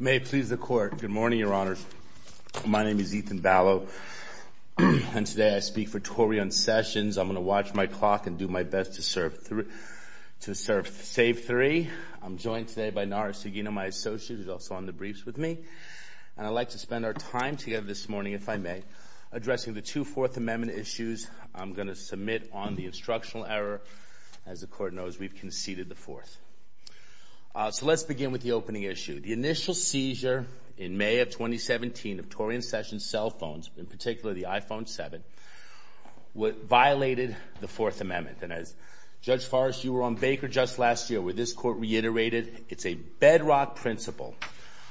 May it please the Court. Good morning, Your Honors. My name is Ethan Vallow, and today I speak for Toyrieon Sessions. I'm going to watch my clock and do my best to serve three to serve, save three. I'm joined today by Nara Sugino, my associate, who's also on the briefs with me. And I'd like to spend our time together this morning, if I may, addressing the two Fourth Amendment issues I'm going to submit on the instructional error. As the So let's begin with the opening issue. The initial seizure in May of 2017 of Toyrieon Sessions' cell phones, in particular the iPhone 7, violated the Fourth Amendment. And as Judge Forrest, you were on Baker just last year, where this Court reiterated, it's a bedrock principle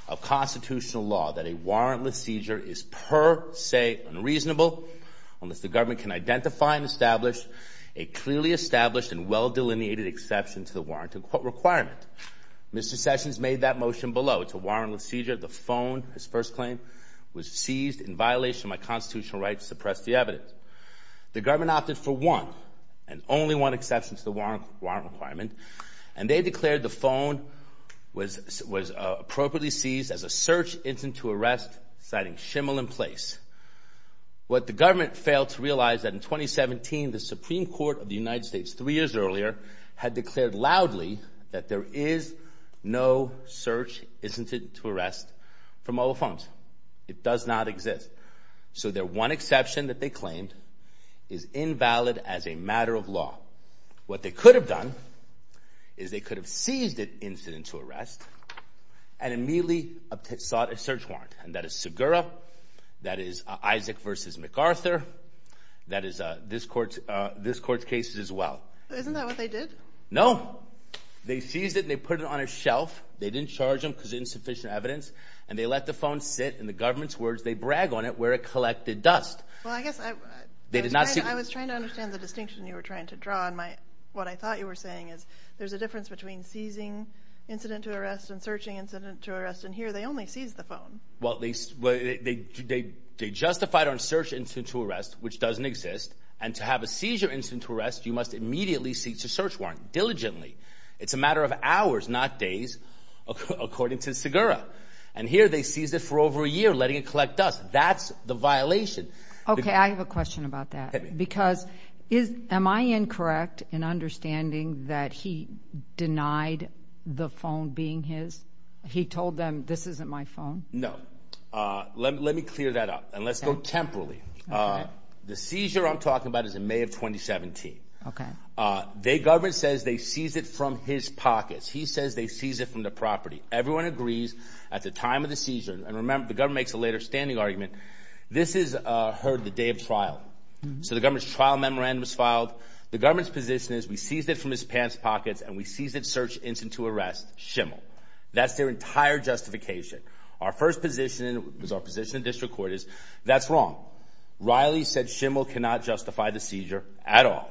of constitutional law that a warrantless seizure is per se unreasonable unless the government can identify and establish a clearly established and well-delineated exception to the warrant requirement. Mr. Sessions made that motion below. It's a warrantless seizure. The phone, his first claim, was seized in violation of my constitutional right to suppress the evidence. The government opted for one and only one exception to the warrant requirement, and they declared the phone was appropriately seized as a search incident to arrest, citing shimmel in place. What the government failed to realize that in 2017, the Supreme Court of the United States, three years earlier, had declared loudly that there is no search incident to arrest for mobile phones. It does not exist. So their one exception that they claimed is invalid as a matter of law. What they could have done is they could have seized an incident to arrest, and immediately sought a search warrant. And that is Segura, that is Isaac v. MacArthur, that is this court's case as well. Isn't that what they did? No. They seized it and they put it on a shelf. They didn't charge them because of insufficient evidence, and they let the phone sit. In the government's words, they brag on it where it collected dust. Well, I guess I was trying to understand the distinction you were trying to draw, and what I thought you were saying is there's a difference between seizing incident to arrest and searching incident to arrest, and here they only seized the phone. Well, they justified on search incident to arrest, which doesn't exist, and to have a seizure incident to arrest, you must immediately seek a search warrant, diligently. It's a matter of hours, not days, according to Segura. And here they seized it for over a year, letting it collect dust. That's the violation. Okay, I have a question about that, because am I incorrect in understanding that he denied the phone being his? He told them, this isn't my phone? No. Let me clear that up, and let's go temporally. The seizure I'm talking about is in May of 2017. The government says they seized it from his pockets. He says they seized it from the property. Everyone agrees at the time of the seizure, and remember, the government makes a later standing argument, this is heard the day of trial. So the government's trial memorandum is filed. The government's position is we seized it from his pants pockets, and we seized it search incident to arrest, shimmel. That's their entire justification. Our first position is, our position in district court is, that's wrong. Riley said shimmel cannot justify the seizure at all.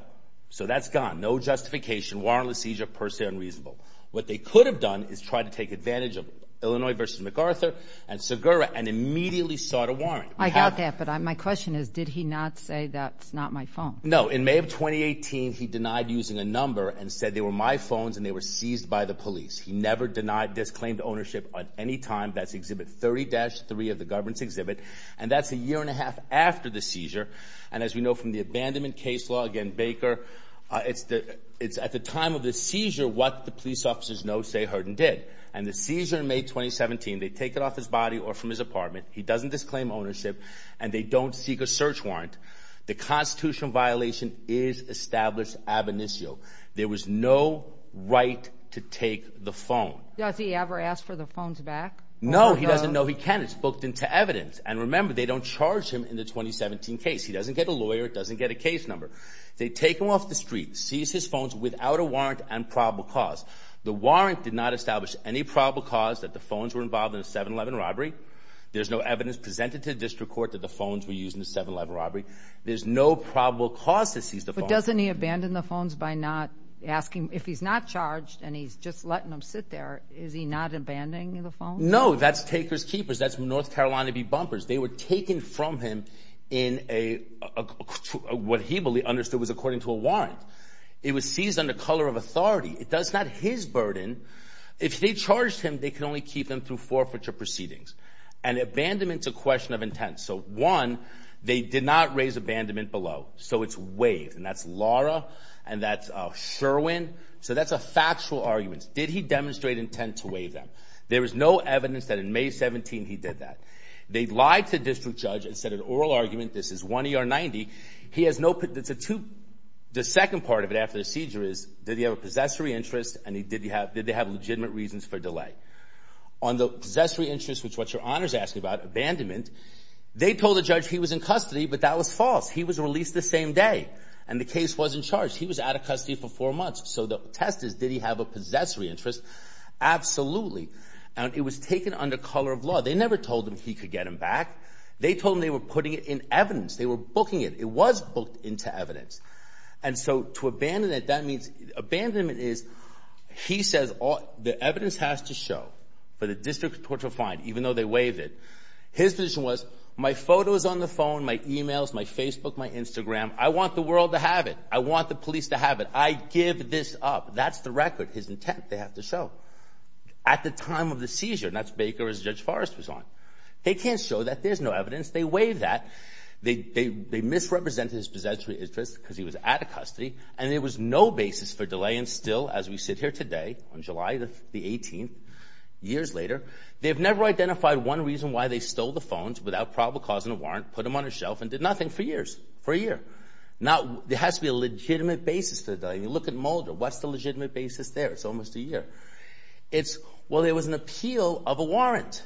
So that's gone. No justification, warrantless seizure, per se unreasonable. What they could have done is tried to take advantage of Illinois versus MacArthur and Segura, and immediately sought a warrant. I doubt that, but my question is, did he not say that's not my phone? No. In May of 2018, he denied using a number and said they were my phones and they were seized by the police. He never denied, disclaimed ownership at any time. That's exhibit 30-3 of the government's exhibit, and that's a year and a half after the seizure. And as we know from the abandonment case law, again, Baker, it's at the time of the seizure what the police officers know, say, heard and did. And the seizure in May 2017, they take it off his body or from his apartment. He doesn't disclaim ownership and they don't seek a search warrant. The constitutional violation is established ab initio. There was no right to take the phone. Does he ever ask for the phones back? No, he doesn't know he can. It's booked into evidence. And remember, they don't charge him in the 2017 case. He doesn't get a lawyer. It doesn't get a case number. They take him off the street, seize his phones without a warrant and probable cause. The warrant did not establish any probable cause that the phones were involved in a 7-11 robbery. There's no evidence presented to district court that the phones were used in a 7-11 robbery. There's no probable cause to seize the phone. But doesn't he abandon the phones by not asking if he's not charged and he's just letting them sit there? Is he not abandoning the phone? No, that's taker's keepers. That's North Carolina B Bumpers. They were taken from him in a what he understood was according to a warrant. It was seized under color of authority. It does not his burden. If they charged him, they could only keep them through forfeiture proceedings. And abandonment's a question of intent. So one, they did not raise abandonment below. So it's waived. And that's Laura and that's Sherwin. So that's a factual argument. Did he demonstrate intent to waive them? There was no evidence that in May 17 he did that. They lied to district judge and said an oral argument. This is one E.R. 90. The second part of it after the seizure is did he have a possessory interest and did you have? Did they have legitimate reasons for delay on the possessory interest, which what your honors asking about abandonment? They told the judge he was in custody, but that was false. He was released the same day and the case wasn't charged. He was out of custody for four months. So the test is, did he have a possessory interest? Absolutely. And it was taken under color of law. They never told him he could get him back. They told me they were putting it in evidence. They were booking it. It was booked into evidence. So to abandon it, that means abandonment is he says the evidence has to show for the district court to find, even though they waived it. His position was my photos on the phone, my emails, my Facebook, my Instagram. I want the world to have it. I want the police to have it. I give this up. That's the record, his intent. They have to show at the time of the seizure. That's Baker as Judge Forrest was on. They can't show that there's no evidence. They waived that. They misrepresented his possessory interest because he was out of custody and there was no basis for delay. And still as we sit here today on July the 18th, years later, they've never identified one reason why they stole the phones without probable cause in a warrant, put them on a shelf and did nothing for years, for a year. There has to be a legitimate basis for the delay. You look at Mulder. What's the legitimate basis there? It's almost a year. It's, well, there was an appeal of a warrant.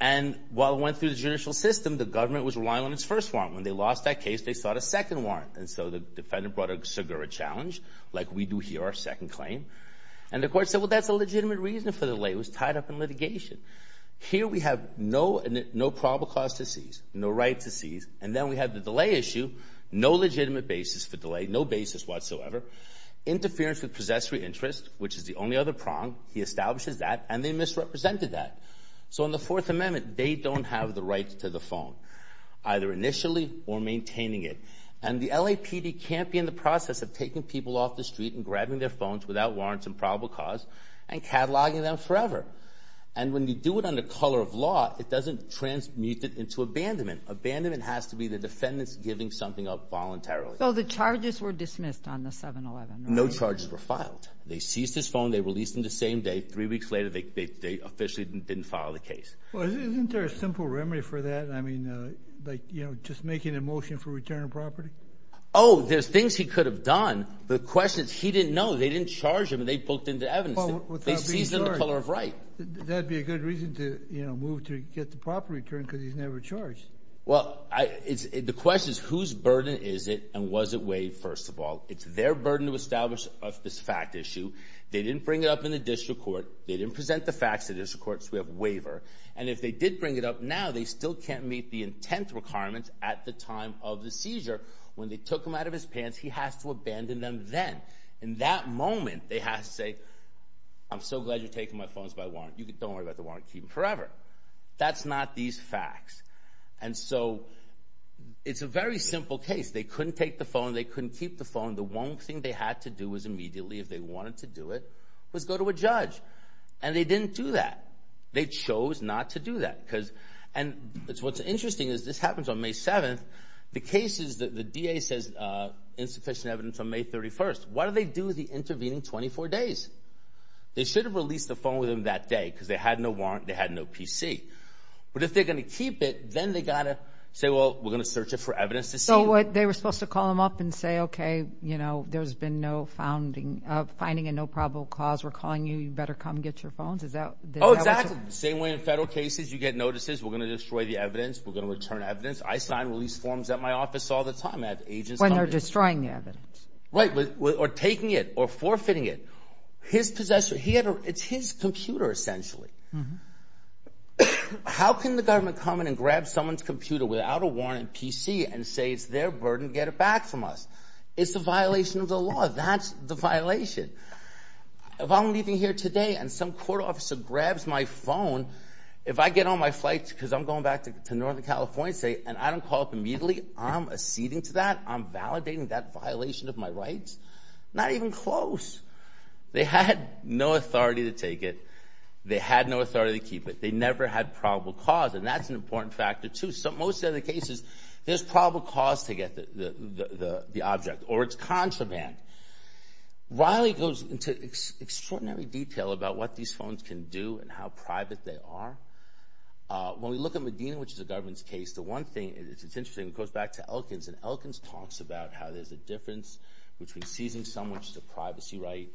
And while it went through the judicial system, the government was relying on its first warrant. When they lost that case, they sought a second warrant. And so the defendant brought a SIGURA challenge, like we do here, our second claim. And the court said, well, that's a legitimate reason for the delay. It was tied up in litigation. Here we have no probable cause to seize, no right to seize. And then we have the delay issue, no legitimate basis for delay, no basis whatsoever. Interference with possessory interest, which is the only other prong. He establishes that and they misrepresented that. So in the Fourth Amendment, they don't have the phone, either initially or maintaining it. And the LAPD can't be in the process of taking people off the street and grabbing their phones without warrants and probable cause and cataloging them forever. And when you do it under color of law, it doesn't transmute it into abandonment. Abandonment has to be the defendants giving something up voluntarily. So the charges were dismissed on the 7-11? No charges were filed. They seized his phone. They released him the same day. Three simple remedy for that. I mean, like, you know, just making a motion for return of property. Oh, there's things he could have done. The question is, he didn't know. They didn't charge him and they booked into evidence. They seized him in the color of right. That'd be a good reason to, you know, move to get the property returned because he's never charged. Well, the question is, whose burden is it? And was it waived? First of all, it's their burden to establish this fact issue. They didn't bring it up in the district court. They didn't present the facts to the district court so we have waiver. And if they did bring it up now, they still can't meet the intent requirements at the time of the seizure. When they took him out of his pants, he has to abandon them then. In that moment, they have to say, I'm so glad you're taking my phones by warrant. Don't worry about the warrant. Keep them forever. That's not these facts. And so it's a very simple case. They couldn't take the phone. They couldn't keep the phone. The one thing they had to do was immediately, if they wanted to do it, was go to a judge. And they didn't do that. They chose not to do that. And what's interesting is this happens on May 7th. The case is that the DA says insufficient evidence on May 31st. What do they do with the intervening 24 days? They should have released the phone with him that day because they had no warrant. They had no PC. But if they're going to keep it, then they got to say, well, we're going to search it for evidence to see. So what they were supposed to call him up and say, okay, there's been no finding and no probable cause. We're calling you. You better come get your phones. Oh, exactly. The same way in federal cases, you get notices. We're going to destroy the evidence. We're going to return evidence. I sign release forms at my office all the time. When they're destroying the evidence. Right. Or taking it or forfeiting it. His possessor, it's his computer essentially. How can the government come in and grab someone's phone? That's a violation of the law. That's the violation. If I'm leaving here today and some court officer grabs my phone, if I get on my flight because I'm going back to Northern California and I don't call up immediately, I'm acceding to that. I'm validating that violation of my rights. Not even close. They had no authority to take it. They had no authority to keep it. They never had probable cause. And that's an important factor too. Most of the cases, there's probable cause to get the object. Or it's contraband. Riley goes into extraordinary detail about what these phones can do and how private they are. When we look at Medina, which is a government's case, the one thing, it's interesting, it goes back to Elkins. And Elkins talks about how there's a difference between seizing someone's privacy right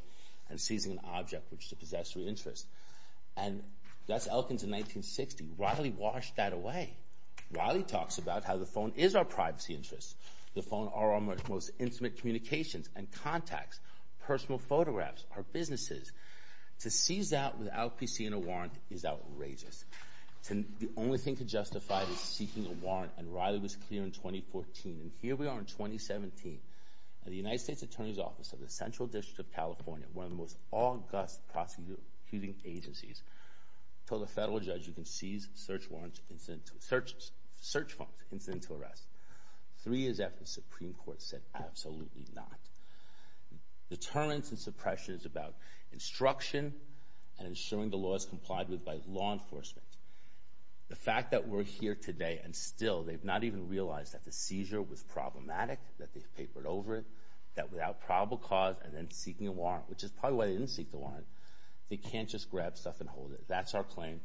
and seizing an object which is a possessory interest. And that's Elkins in 1960. Riley washed that away. Riley talks about how the phone is our business. The phone are our most intimate communications and contacts, personal photographs, our businesses. To seize that without PC and a warrant is outrageous. The only thing to justify is seeking a warrant. And Riley was clear in 2014. And here we are in 2017. The United States Attorney's Office of the Central District of California, one of the most august prosecuting agencies, told a federal judge you can seize search warrants, search phones, incident to arrest. Three years after, the Supreme Court said absolutely not. Deterrence and suppression is about instruction and ensuring the law is complied with by law enforcement. The fact that we're here today and still they've not even realized that the seizure was problematic, that they've papered over it, that without probable cause and then seeking a warrant, which is probably why they didn't seek the warrant, they can't just grab stuff and hold it. That's our claim.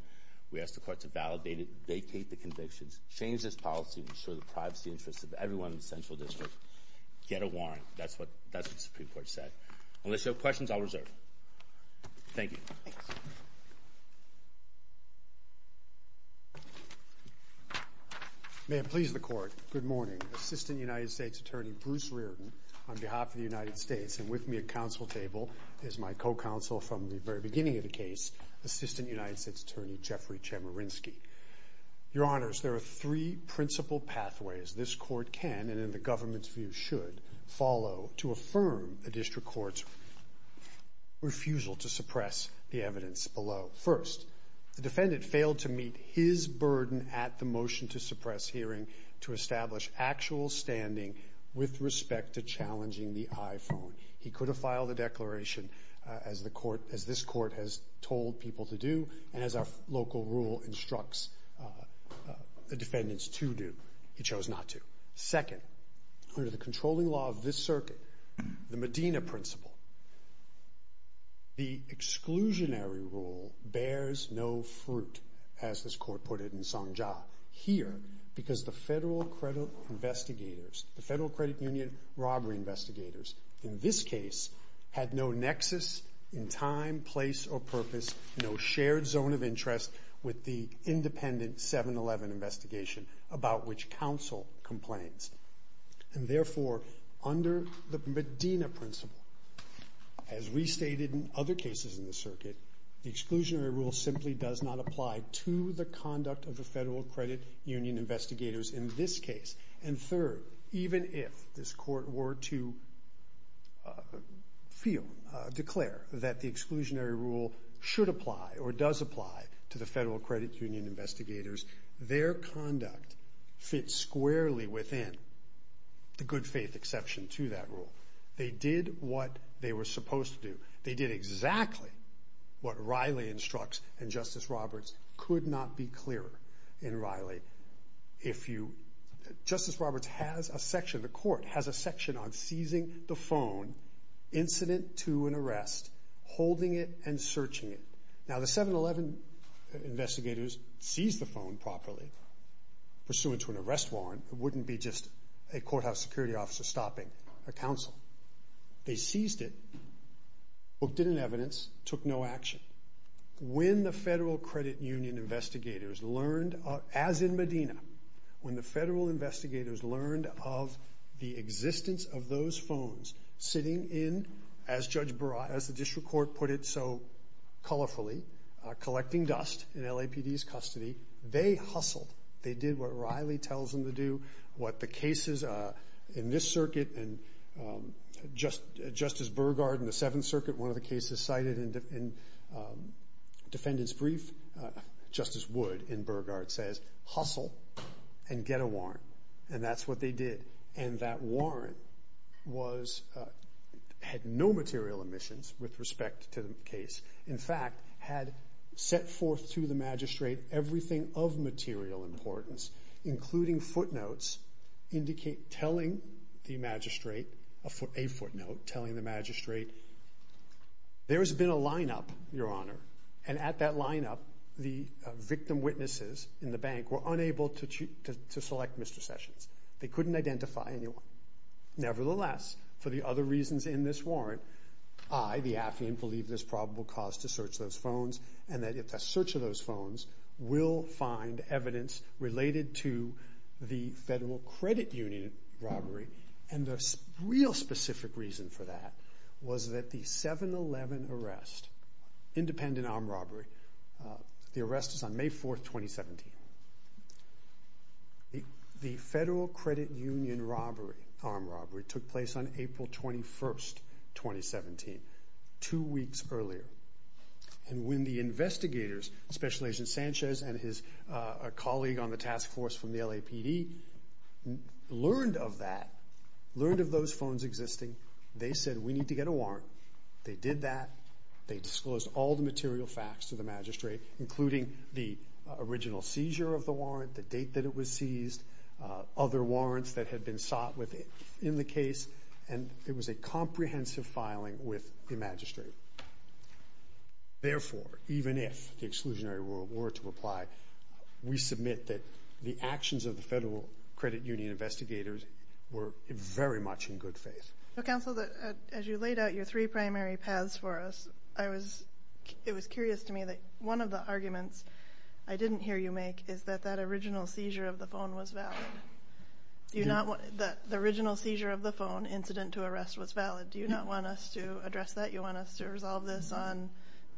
We ask the court to validate it, vacate the convictions, change this policy, ensure the privacy interests of everyone in the Central District, get a warrant. That's what the Supreme Court said. Unless you have questions, I'll reserve. Thank you. May it please the court. Good morning. Assistant United States Attorney Bruce Reardon on behalf of counsel from the very beginning of the case, Assistant United States Attorney Jeffrey Chemerinsky. Your honors, there are three principal pathways this court can and in the government's view should follow to affirm the district court's refusal to suppress the evidence below. First, the defendant failed to meet his burden at the motion to suppress hearing to establish actual standing with respect to challenging the iPhone. He could have filed a declaration as the court, as this court has told people to do and as our local rule instructs the defendants to do. He chose not to. Second, under the controlling law of this circuit, the Medina principle, the exclusionary rule bears no fruit as this court put it in Songja here because the federal investigators, the federal credit union robbery investigators in this case had no nexus in time, place or purpose, no shared zone of interest with the independent 7-11 investigation about which counsel complains. And therefore, under the Medina principle, as we stated in other cases in the circuit, the exclusionary rule simply does not apply to the conduct of the federal credit union investigators in this case. And third, even if this court were to feel, declare that the exclusionary rule should apply or does apply to the federal credit union investigators, their conduct fits squarely within the good faith exception to that rule. They did what they were supposed to do. They did exactly what Riley instructs and Justice Roberts could not be clearer in Riley. Justice Roberts has a section, the court has a section on seizing the phone incident to an arrest, holding it and searching it. Now the 7-11 investigators seized the phone properly pursuant to an arrest warrant. It wouldn't be just a courthouse security officer stopping a counsel. They seized it, booked it in evidence, took no action. When the federal credit union investigators learned, as in Medina, when the federal investigators learned of the existence of those phones sitting in, as the district court put it so colorfully, collecting dust in LAPD's custody, they hustled. They did what Riley tells them to do, what the cases in this circuit, one of the cases cited in defendant's brief, Justice Wood in Burgard says, hustle and get a warrant. And that's what they did. And that warrant was, had no material omissions with respect to the case. In fact, had set forth to the magistrate everything of material importance, including footnotes telling the magistrate, a footnote telling the magistrate, there's been a lineup, your honor. And at that lineup, the victim witnesses in the bank were unable to select Mr. Sessions. They couldn't identify anyone. Nevertheless, for the other reasons in this warrant, I, the affiant, believe there's probable cause to search those phones and that if the search of those phones will find evidence related to the federal credit union robbery. And the real specific reason for that was that the 7-11 arrest, independent armed robbery, the arrest is on May 4th, 2017. The federal credit union robbery, armed robbery took place on April 21st, 2017, two weeks earlier. And when the investigators, Special Agent Sanchez and his colleague on the task force from the LAPD, learned of that, learned of those phones existing, they said, we need to get a warrant. They did that. They disclosed all the material facts to the magistrate, including the original seizure of the warrant, the date that it was seized, other warrants that had been sought in the case. And it was a comprehensive filing with the magistrate. Therefore, even if the exclusionary rule were to apply, we submit that the actions of the federal credit union investigators were very much in good faith. So counsel, as you laid out your three primary paths for us, it was curious to me that one of the arguments I didn't hear you make is that that original seizure of the phone incident to arrest was valid. Do you not want us to address that? You want us to resolve this on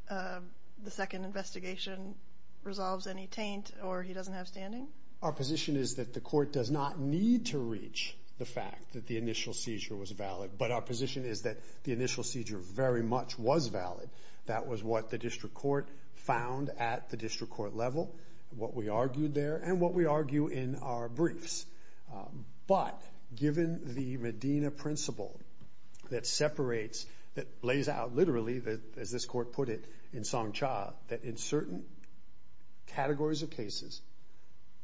the second investigation resolves any taint or he doesn't have standing? Our position is that the court does not need to reach the fact that the initial seizure was valid. But our position is that the initial seizure very much was valid. That was what the district court found at the district court level, what we argued there and what we argue in our briefs. But given the Medina principle that separates, that lays out literally, as this court put it in Song Cha, that in certain categories of cases,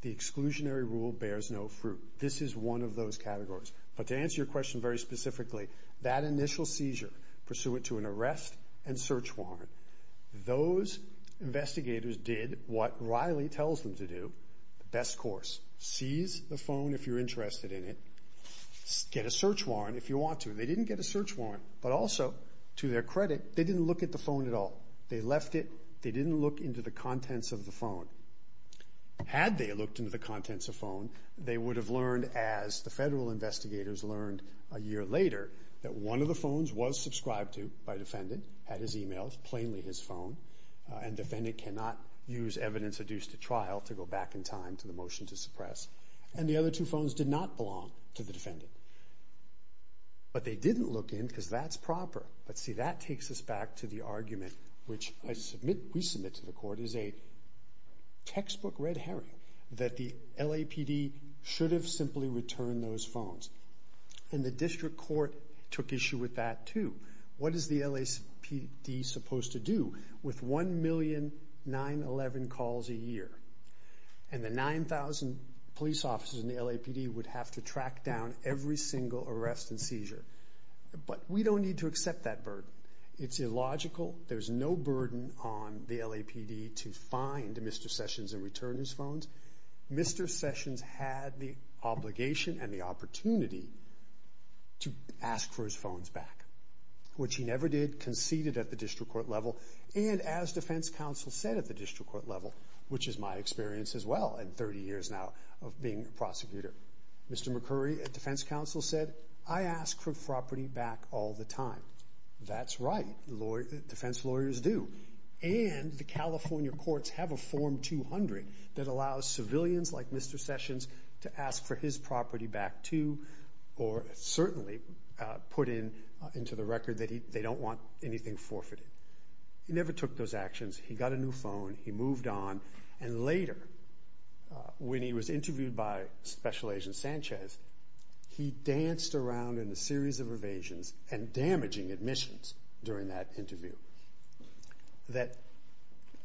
the exclusionary rule bears no fruit. This is one of those categories. But to answer your question very specifically, that initial seizure pursuant to an arrest and search warrant, those investigators did what Riley tells them to do, the best course, seize the phone if you're interested in it, get a search warrant if you want to. They didn't get a search warrant, but also to their credit, they didn't look at the phone at all. They left it, they didn't look into the contents of the phone. Had they looked into the contents of the phone, they would have learned as the federal investigators learned a year later that one of the phones was subscribed to by a defendant, had his to go back in time to the motion to suppress, and the other two phones did not belong to the defendant. But they didn't look in because that's proper. But see, that takes us back to the argument, which we submit to the court, is a textbook red herring that the LAPD should have simply returned those phones. And the district court took issue with that too. What is the LAPD supposed to do with 1,000,911 calls a year? And the 9,000 police officers in the LAPD would have to track down every single arrest and seizure. But we don't need to accept that burden. It's illogical. There's no burden on the LAPD to find Mr. Sessions and return his phones. Mr. Sessions had the obligation and the opportunity to ask for his phones back, which he never did, conceded at the district court level, and as defense counsel said at the district court level, which is my experience as well in 30 years now of being a prosecutor. Mr. McCurry at defense counsel said, I ask for property back all the time. That's right. Defense lawyers do. And the California courts have a form 200 that allows civilians like Mr. Sessions to ask for his property back too, or certainly put into the record that they don't want anything forfeited. He never took those actions. He got a new phone. He moved on. And later, when he was interviewed by Special Agent Sanchez, he danced around in a series of evasions and damaging admissions during that interview. That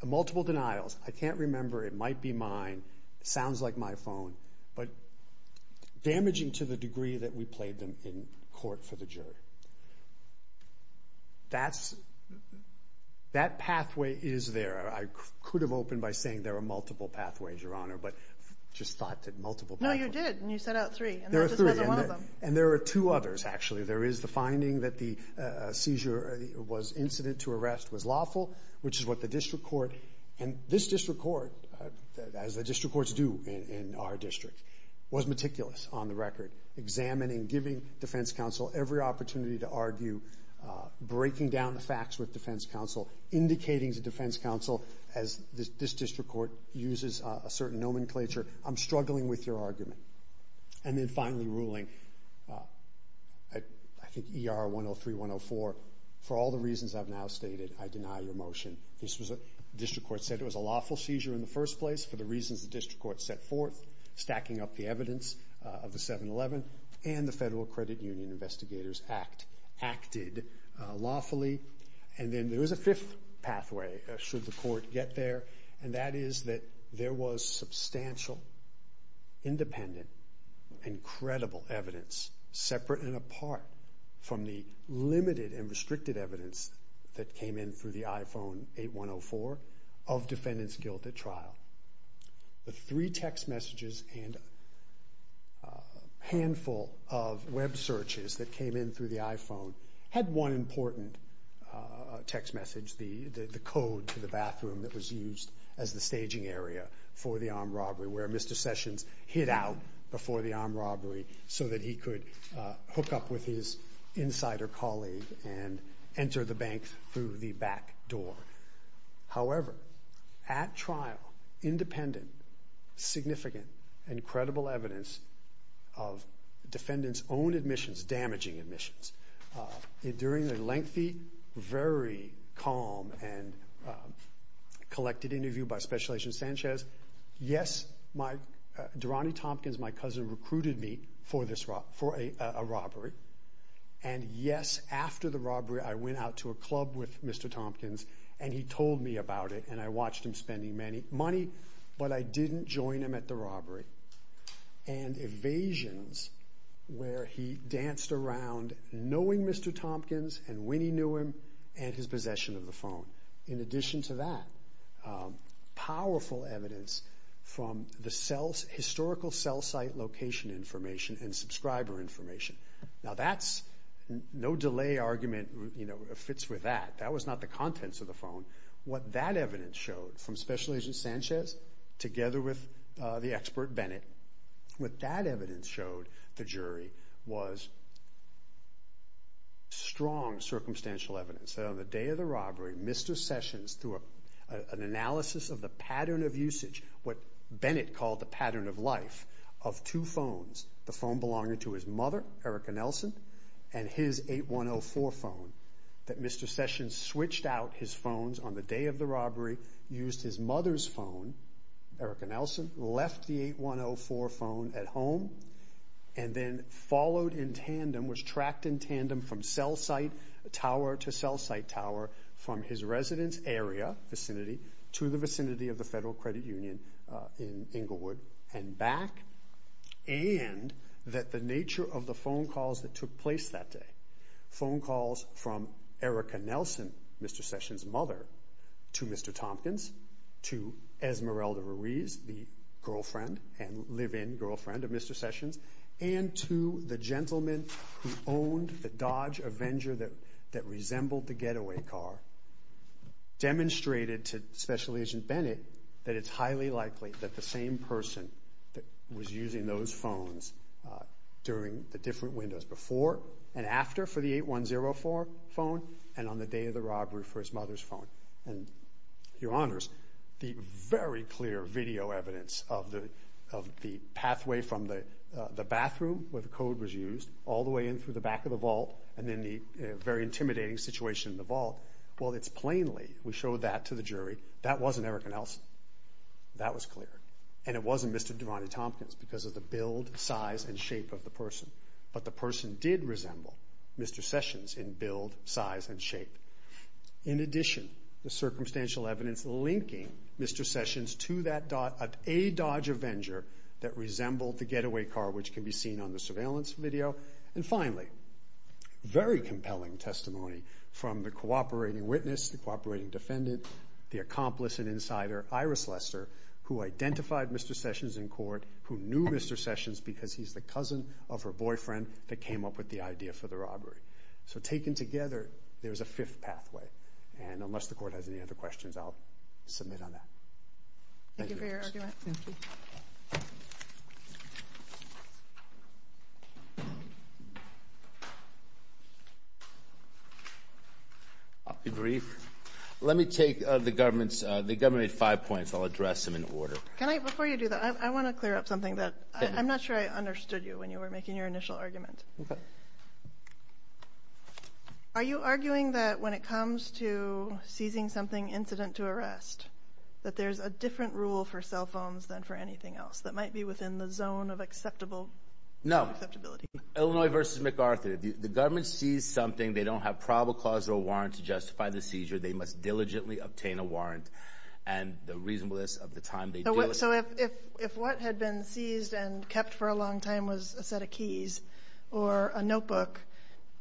multiple denials, I can't remember, it might be mine, sounds like my phone, but damaging to the degree that we played them in court for the jury. That pathway is there. I could have opened by saying there are multiple pathways, Your Honor, but just thought that multiple pathways. No, you did, and you set out three. There are three, and there are two others, actually. There is the finding that the seizure was incident to arrest was lawful, which is what the district court, and this district court, as the district courts do in our district, was meticulous on the record, examining, giving defense counsel every opportunity to argue, breaking down the facts with defense counsel, indicating to defense counsel, as this district court uses a certain nomenclature, I'm struggling with your argument. And then finally ruling, I think ER 103-104, for all the reasons I've now stated, I deny your motion. The district court said it was a lawful seizure in the first place for the reasons the district court set forth, stacking up the evidence of the 7-11, and the Federal Credit Union Investigators Act acted lawfully. And then there is a fifth pathway, should the court get there, and that is that there was substantial, independent, incredible evidence, separate and apart from the limited and restricted evidence that came in through the iPhone 8-104, of defendant's text messages and a handful of web searches that came in through the iPhone had one important text message, the code to the bathroom that was used as the staging area for the armed robbery, where Mr. Sessions hid out before the armed robbery so that he could hook up with his insider colleague and enter the bank through the back door. However, at trial, independent, significant, incredible evidence of defendant's own admissions, damaging admissions, during a lengthy, very calm and collected interview by Special Agent Sanchez, yes, Durante Tompkins, my cousin, recruited me for a robbery, and yes, after the robbery, I went out to a club with Mr. Tompkins and he told me about it, and I watched him spending money, but I didn't join him at the robbery. And evasions, where he danced around knowing Mr. Tompkins and when he knew him, and his possession of the phone. In addition to that, powerful evidence from the historical cell site location information and subscriber information. Now that's no delay argument fits with that. That was not the contents of the phone. What that evidence showed from Special Agent Sanchez together with the expert Bennett, what that evidence showed the jury was strong circumstantial evidence that on the day of the robbery, Mr. Sessions, through an analysis of the pattern of usage, what Bennett called the pattern of life of two phones. The phone belonging to his mother, Erica Nelson, and his 8104 phone that Mr. Sessions switched out his phones on the day of the robbery, used his mother's phone, Erica Nelson, left the 8104 phone at home, and then followed in tandem, was tracked in tandem from cell site tower to cell site tower from his residence area, vicinity, to the vicinity of the Federal Credit Union in Inglewood, and back. And that the nature of the phone calls that took place that day, phone calls from Erica Nelson, Mr. Sessions' mother, to Mr. Tompkins, to Esmeralda Ruiz, the girlfriend and live-in girlfriend of Mr. Sessions, and to the gentleman who owned the Dodge Avenger that resembled the getaway car, demonstrated to Special Agent Bennett that it's highly likely that the same person was using those phones during the different windows before and after for the 8104 phone, and on the day of the robbery for his mother's phone. And, Your Honors, the very clear video evidence of the pathway from the bathroom, where the code was used, all the way in through the back of the vault, and then the very intimidating situation in the vault, well, it's plainly, we showed that to the jury, that wasn't Erica Nelson. That was clear. And it wasn't Mr. Devante Tompkins, because of the build, size, and shape of the person. But the person did resemble Mr. Sessions in build, size, and shape. In addition, the circumstantial evidence linking Mr. Sessions to a Dodge Avenger that resembled the getaway car, which can be seen on the surveillance video. And finally, very compelling testimony from the cooperating witness, the cooperating defendant, the accomplice and insider, Iris Lester, who identified Mr. Sessions in court, who knew Mr. Sessions because he's the cousin of her boyfriend that came up with the idea for the robbery. So taken together, there's a fifth pathway. And unless the court has any other questions, I'll submit on that. Thank you. Thank you for your argument. I'll be brief. Let me take the government's, the government made five points. I'll address them in order. Can I, before you do that, I want to clear up something that I'm not sure I understood you when you were making your initial argument. Okay. Are you arguing that when it comes to seizing something incident to arrest, that there's a different rule for cell phones than for anything else that might be within the zone of acceptable? No, Illinois versus MacArthur, the government sees something. They don't have probable cause or warrant to justify the seizure. They must diligently obtain a warrant and the reasonableness of the time they do. So if, if, if what had been seized and kept for a long time was a set of keys or a notebook,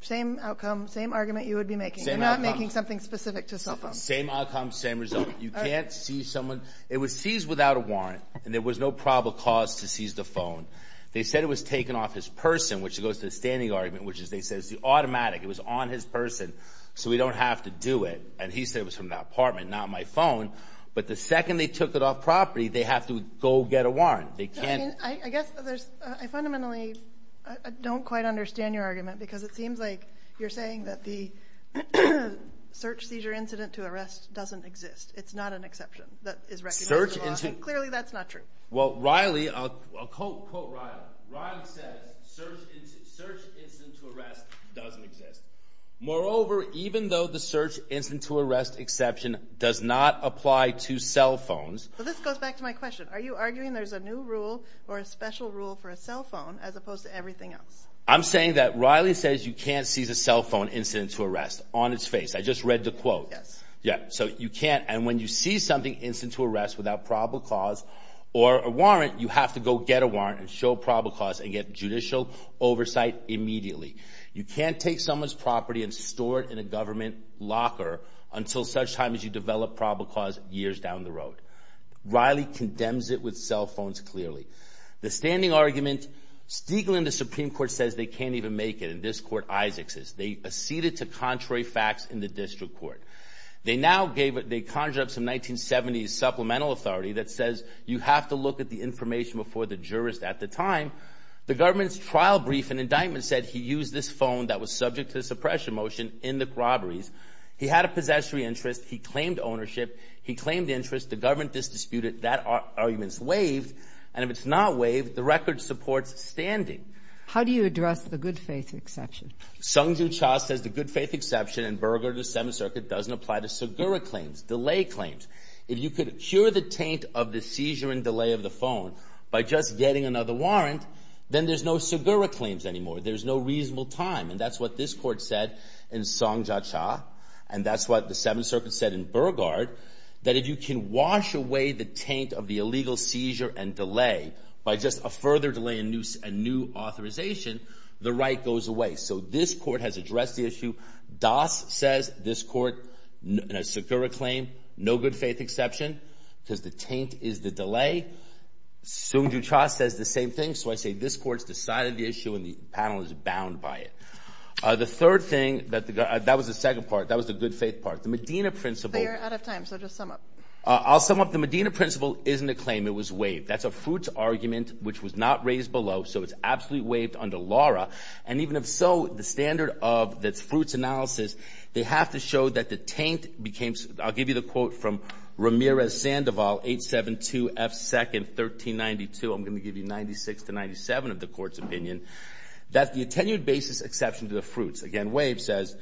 same outcome, same argument you would be making. You're not making something specific to cell phones. Same outcome, same result. You can't see someone. It was seized without a warrant and there was no probable cause to seize the phone. They said it was taken off his person, which goes to the standing argument, which is they said it's the automatic. It was on his person. So we don't have to do it. And he said it was from the apartment, not my phone. But the second they took it off property, they have to go get a warrant. They can't. I guess there's, I fundamentally don't quite understand your argument because it seems like you're saying that the search seizure incident to arrest doesn't exist. It's not an exception that is recognized. Search incident. Clearly that's not true. Well, Riley, I'll quote Riley. Riley says search incident to arrest doesn't exist. Moreover, even though the search incident to arrest exception does not apply to cell phones. I have a question. Are you arguing there's a new rule or a special rule for a cell phone as opposed to everything else? I'm saying that Riley says you can't seize a cell phone incident to arrest on its face. I just read the quote. Yes. Yeah. So you can't. And when you see something incident to arrest without probable cause or a warrant, you have to go get a warrant and show probable cause and get judicial oversight immediately. You can't take someone's property and store it in a government locker until such time as you develop probable cause years down the road. Riley condemns it with cell phones clearly. The standing argument, Stiglitz in the Supreme Court says they can't even make it. In this court, Isaac says they acceded to contrary facts in the district court. They now gave it, they conjured up some 1970s supplemental authority that says you have to look at the information before the jurist at the time. The government's trial brief and indictment said he used this phone that was subject to suppression motion in the robberies. He had possessory interest. He claimed ownership. He claimed interest. The government is disputed. That argument's waived. And if it's not waived, the record supports standing. How do you address the good faith exception? Sungjoo Cha says the good faith exception in Berger to Seventh Circuit doesn't apply to Segura claims, delay claims. If you could cure the taint of the seizure and delay of the phone by just getting another warrant, then there's no Segura claims anymore. There's no reasonable time. And that's what this court said in Sungjoo Cha. And that's what the Seventh Circuit said in Berger that if you can wash away the taint of the illegal seizure and delay by just a further delay, a new authorization, the right goes away. So this court has addressed the issue. Das says this court, in a Segura claim, no good faith exception because the taint is the delay. Sungjoo Cha says the same thing. So I say this court's decided the issue and the panel is bound by it. The third thing, that was the second part. That was the good faith part. The Medina principle. You're out of time, so just sum up. I'll sum up. The Medina principle isn't a claim. It was waived. That's a Fruits argument which was not raised below, so it's absolutely waived under Laura. And even if so, the standard of the Fruits analysis, they have to show that the taint became, I'll give you the quote from Ramirez-Sandoval, 872 F. 2nd, 1392. I'm going to give you 96 to 97 of the court's opinion. That the attenuated basis exception to the Fruits, again waived, says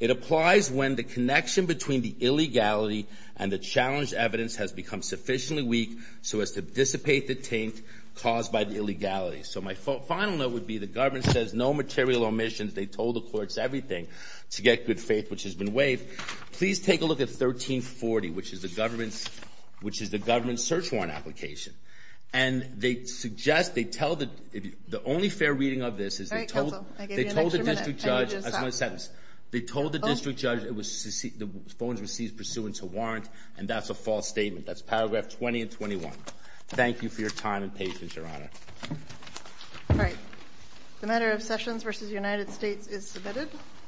it applies when the connection between the illegality and the challenged evidence has become sufficiently weak so as to dissipate the taint caused by the illegality. So my final note would be the government says no material omissions. They told the courts everything to get good faith, which has been waived. Please take a look at 1340, which is the government's, which is the government's search warrant application. And they suggest, they tell the, the only fair reading of this is they told, they told the district judge, that's my sentence, they told the district judge it was, the phones were seized pursuant to warrant, and that's a false statement. That's paragraph 20 and 21. Thank you for your time and patience, Your Honor. All right. The matter of Sessions v. United States is submitted.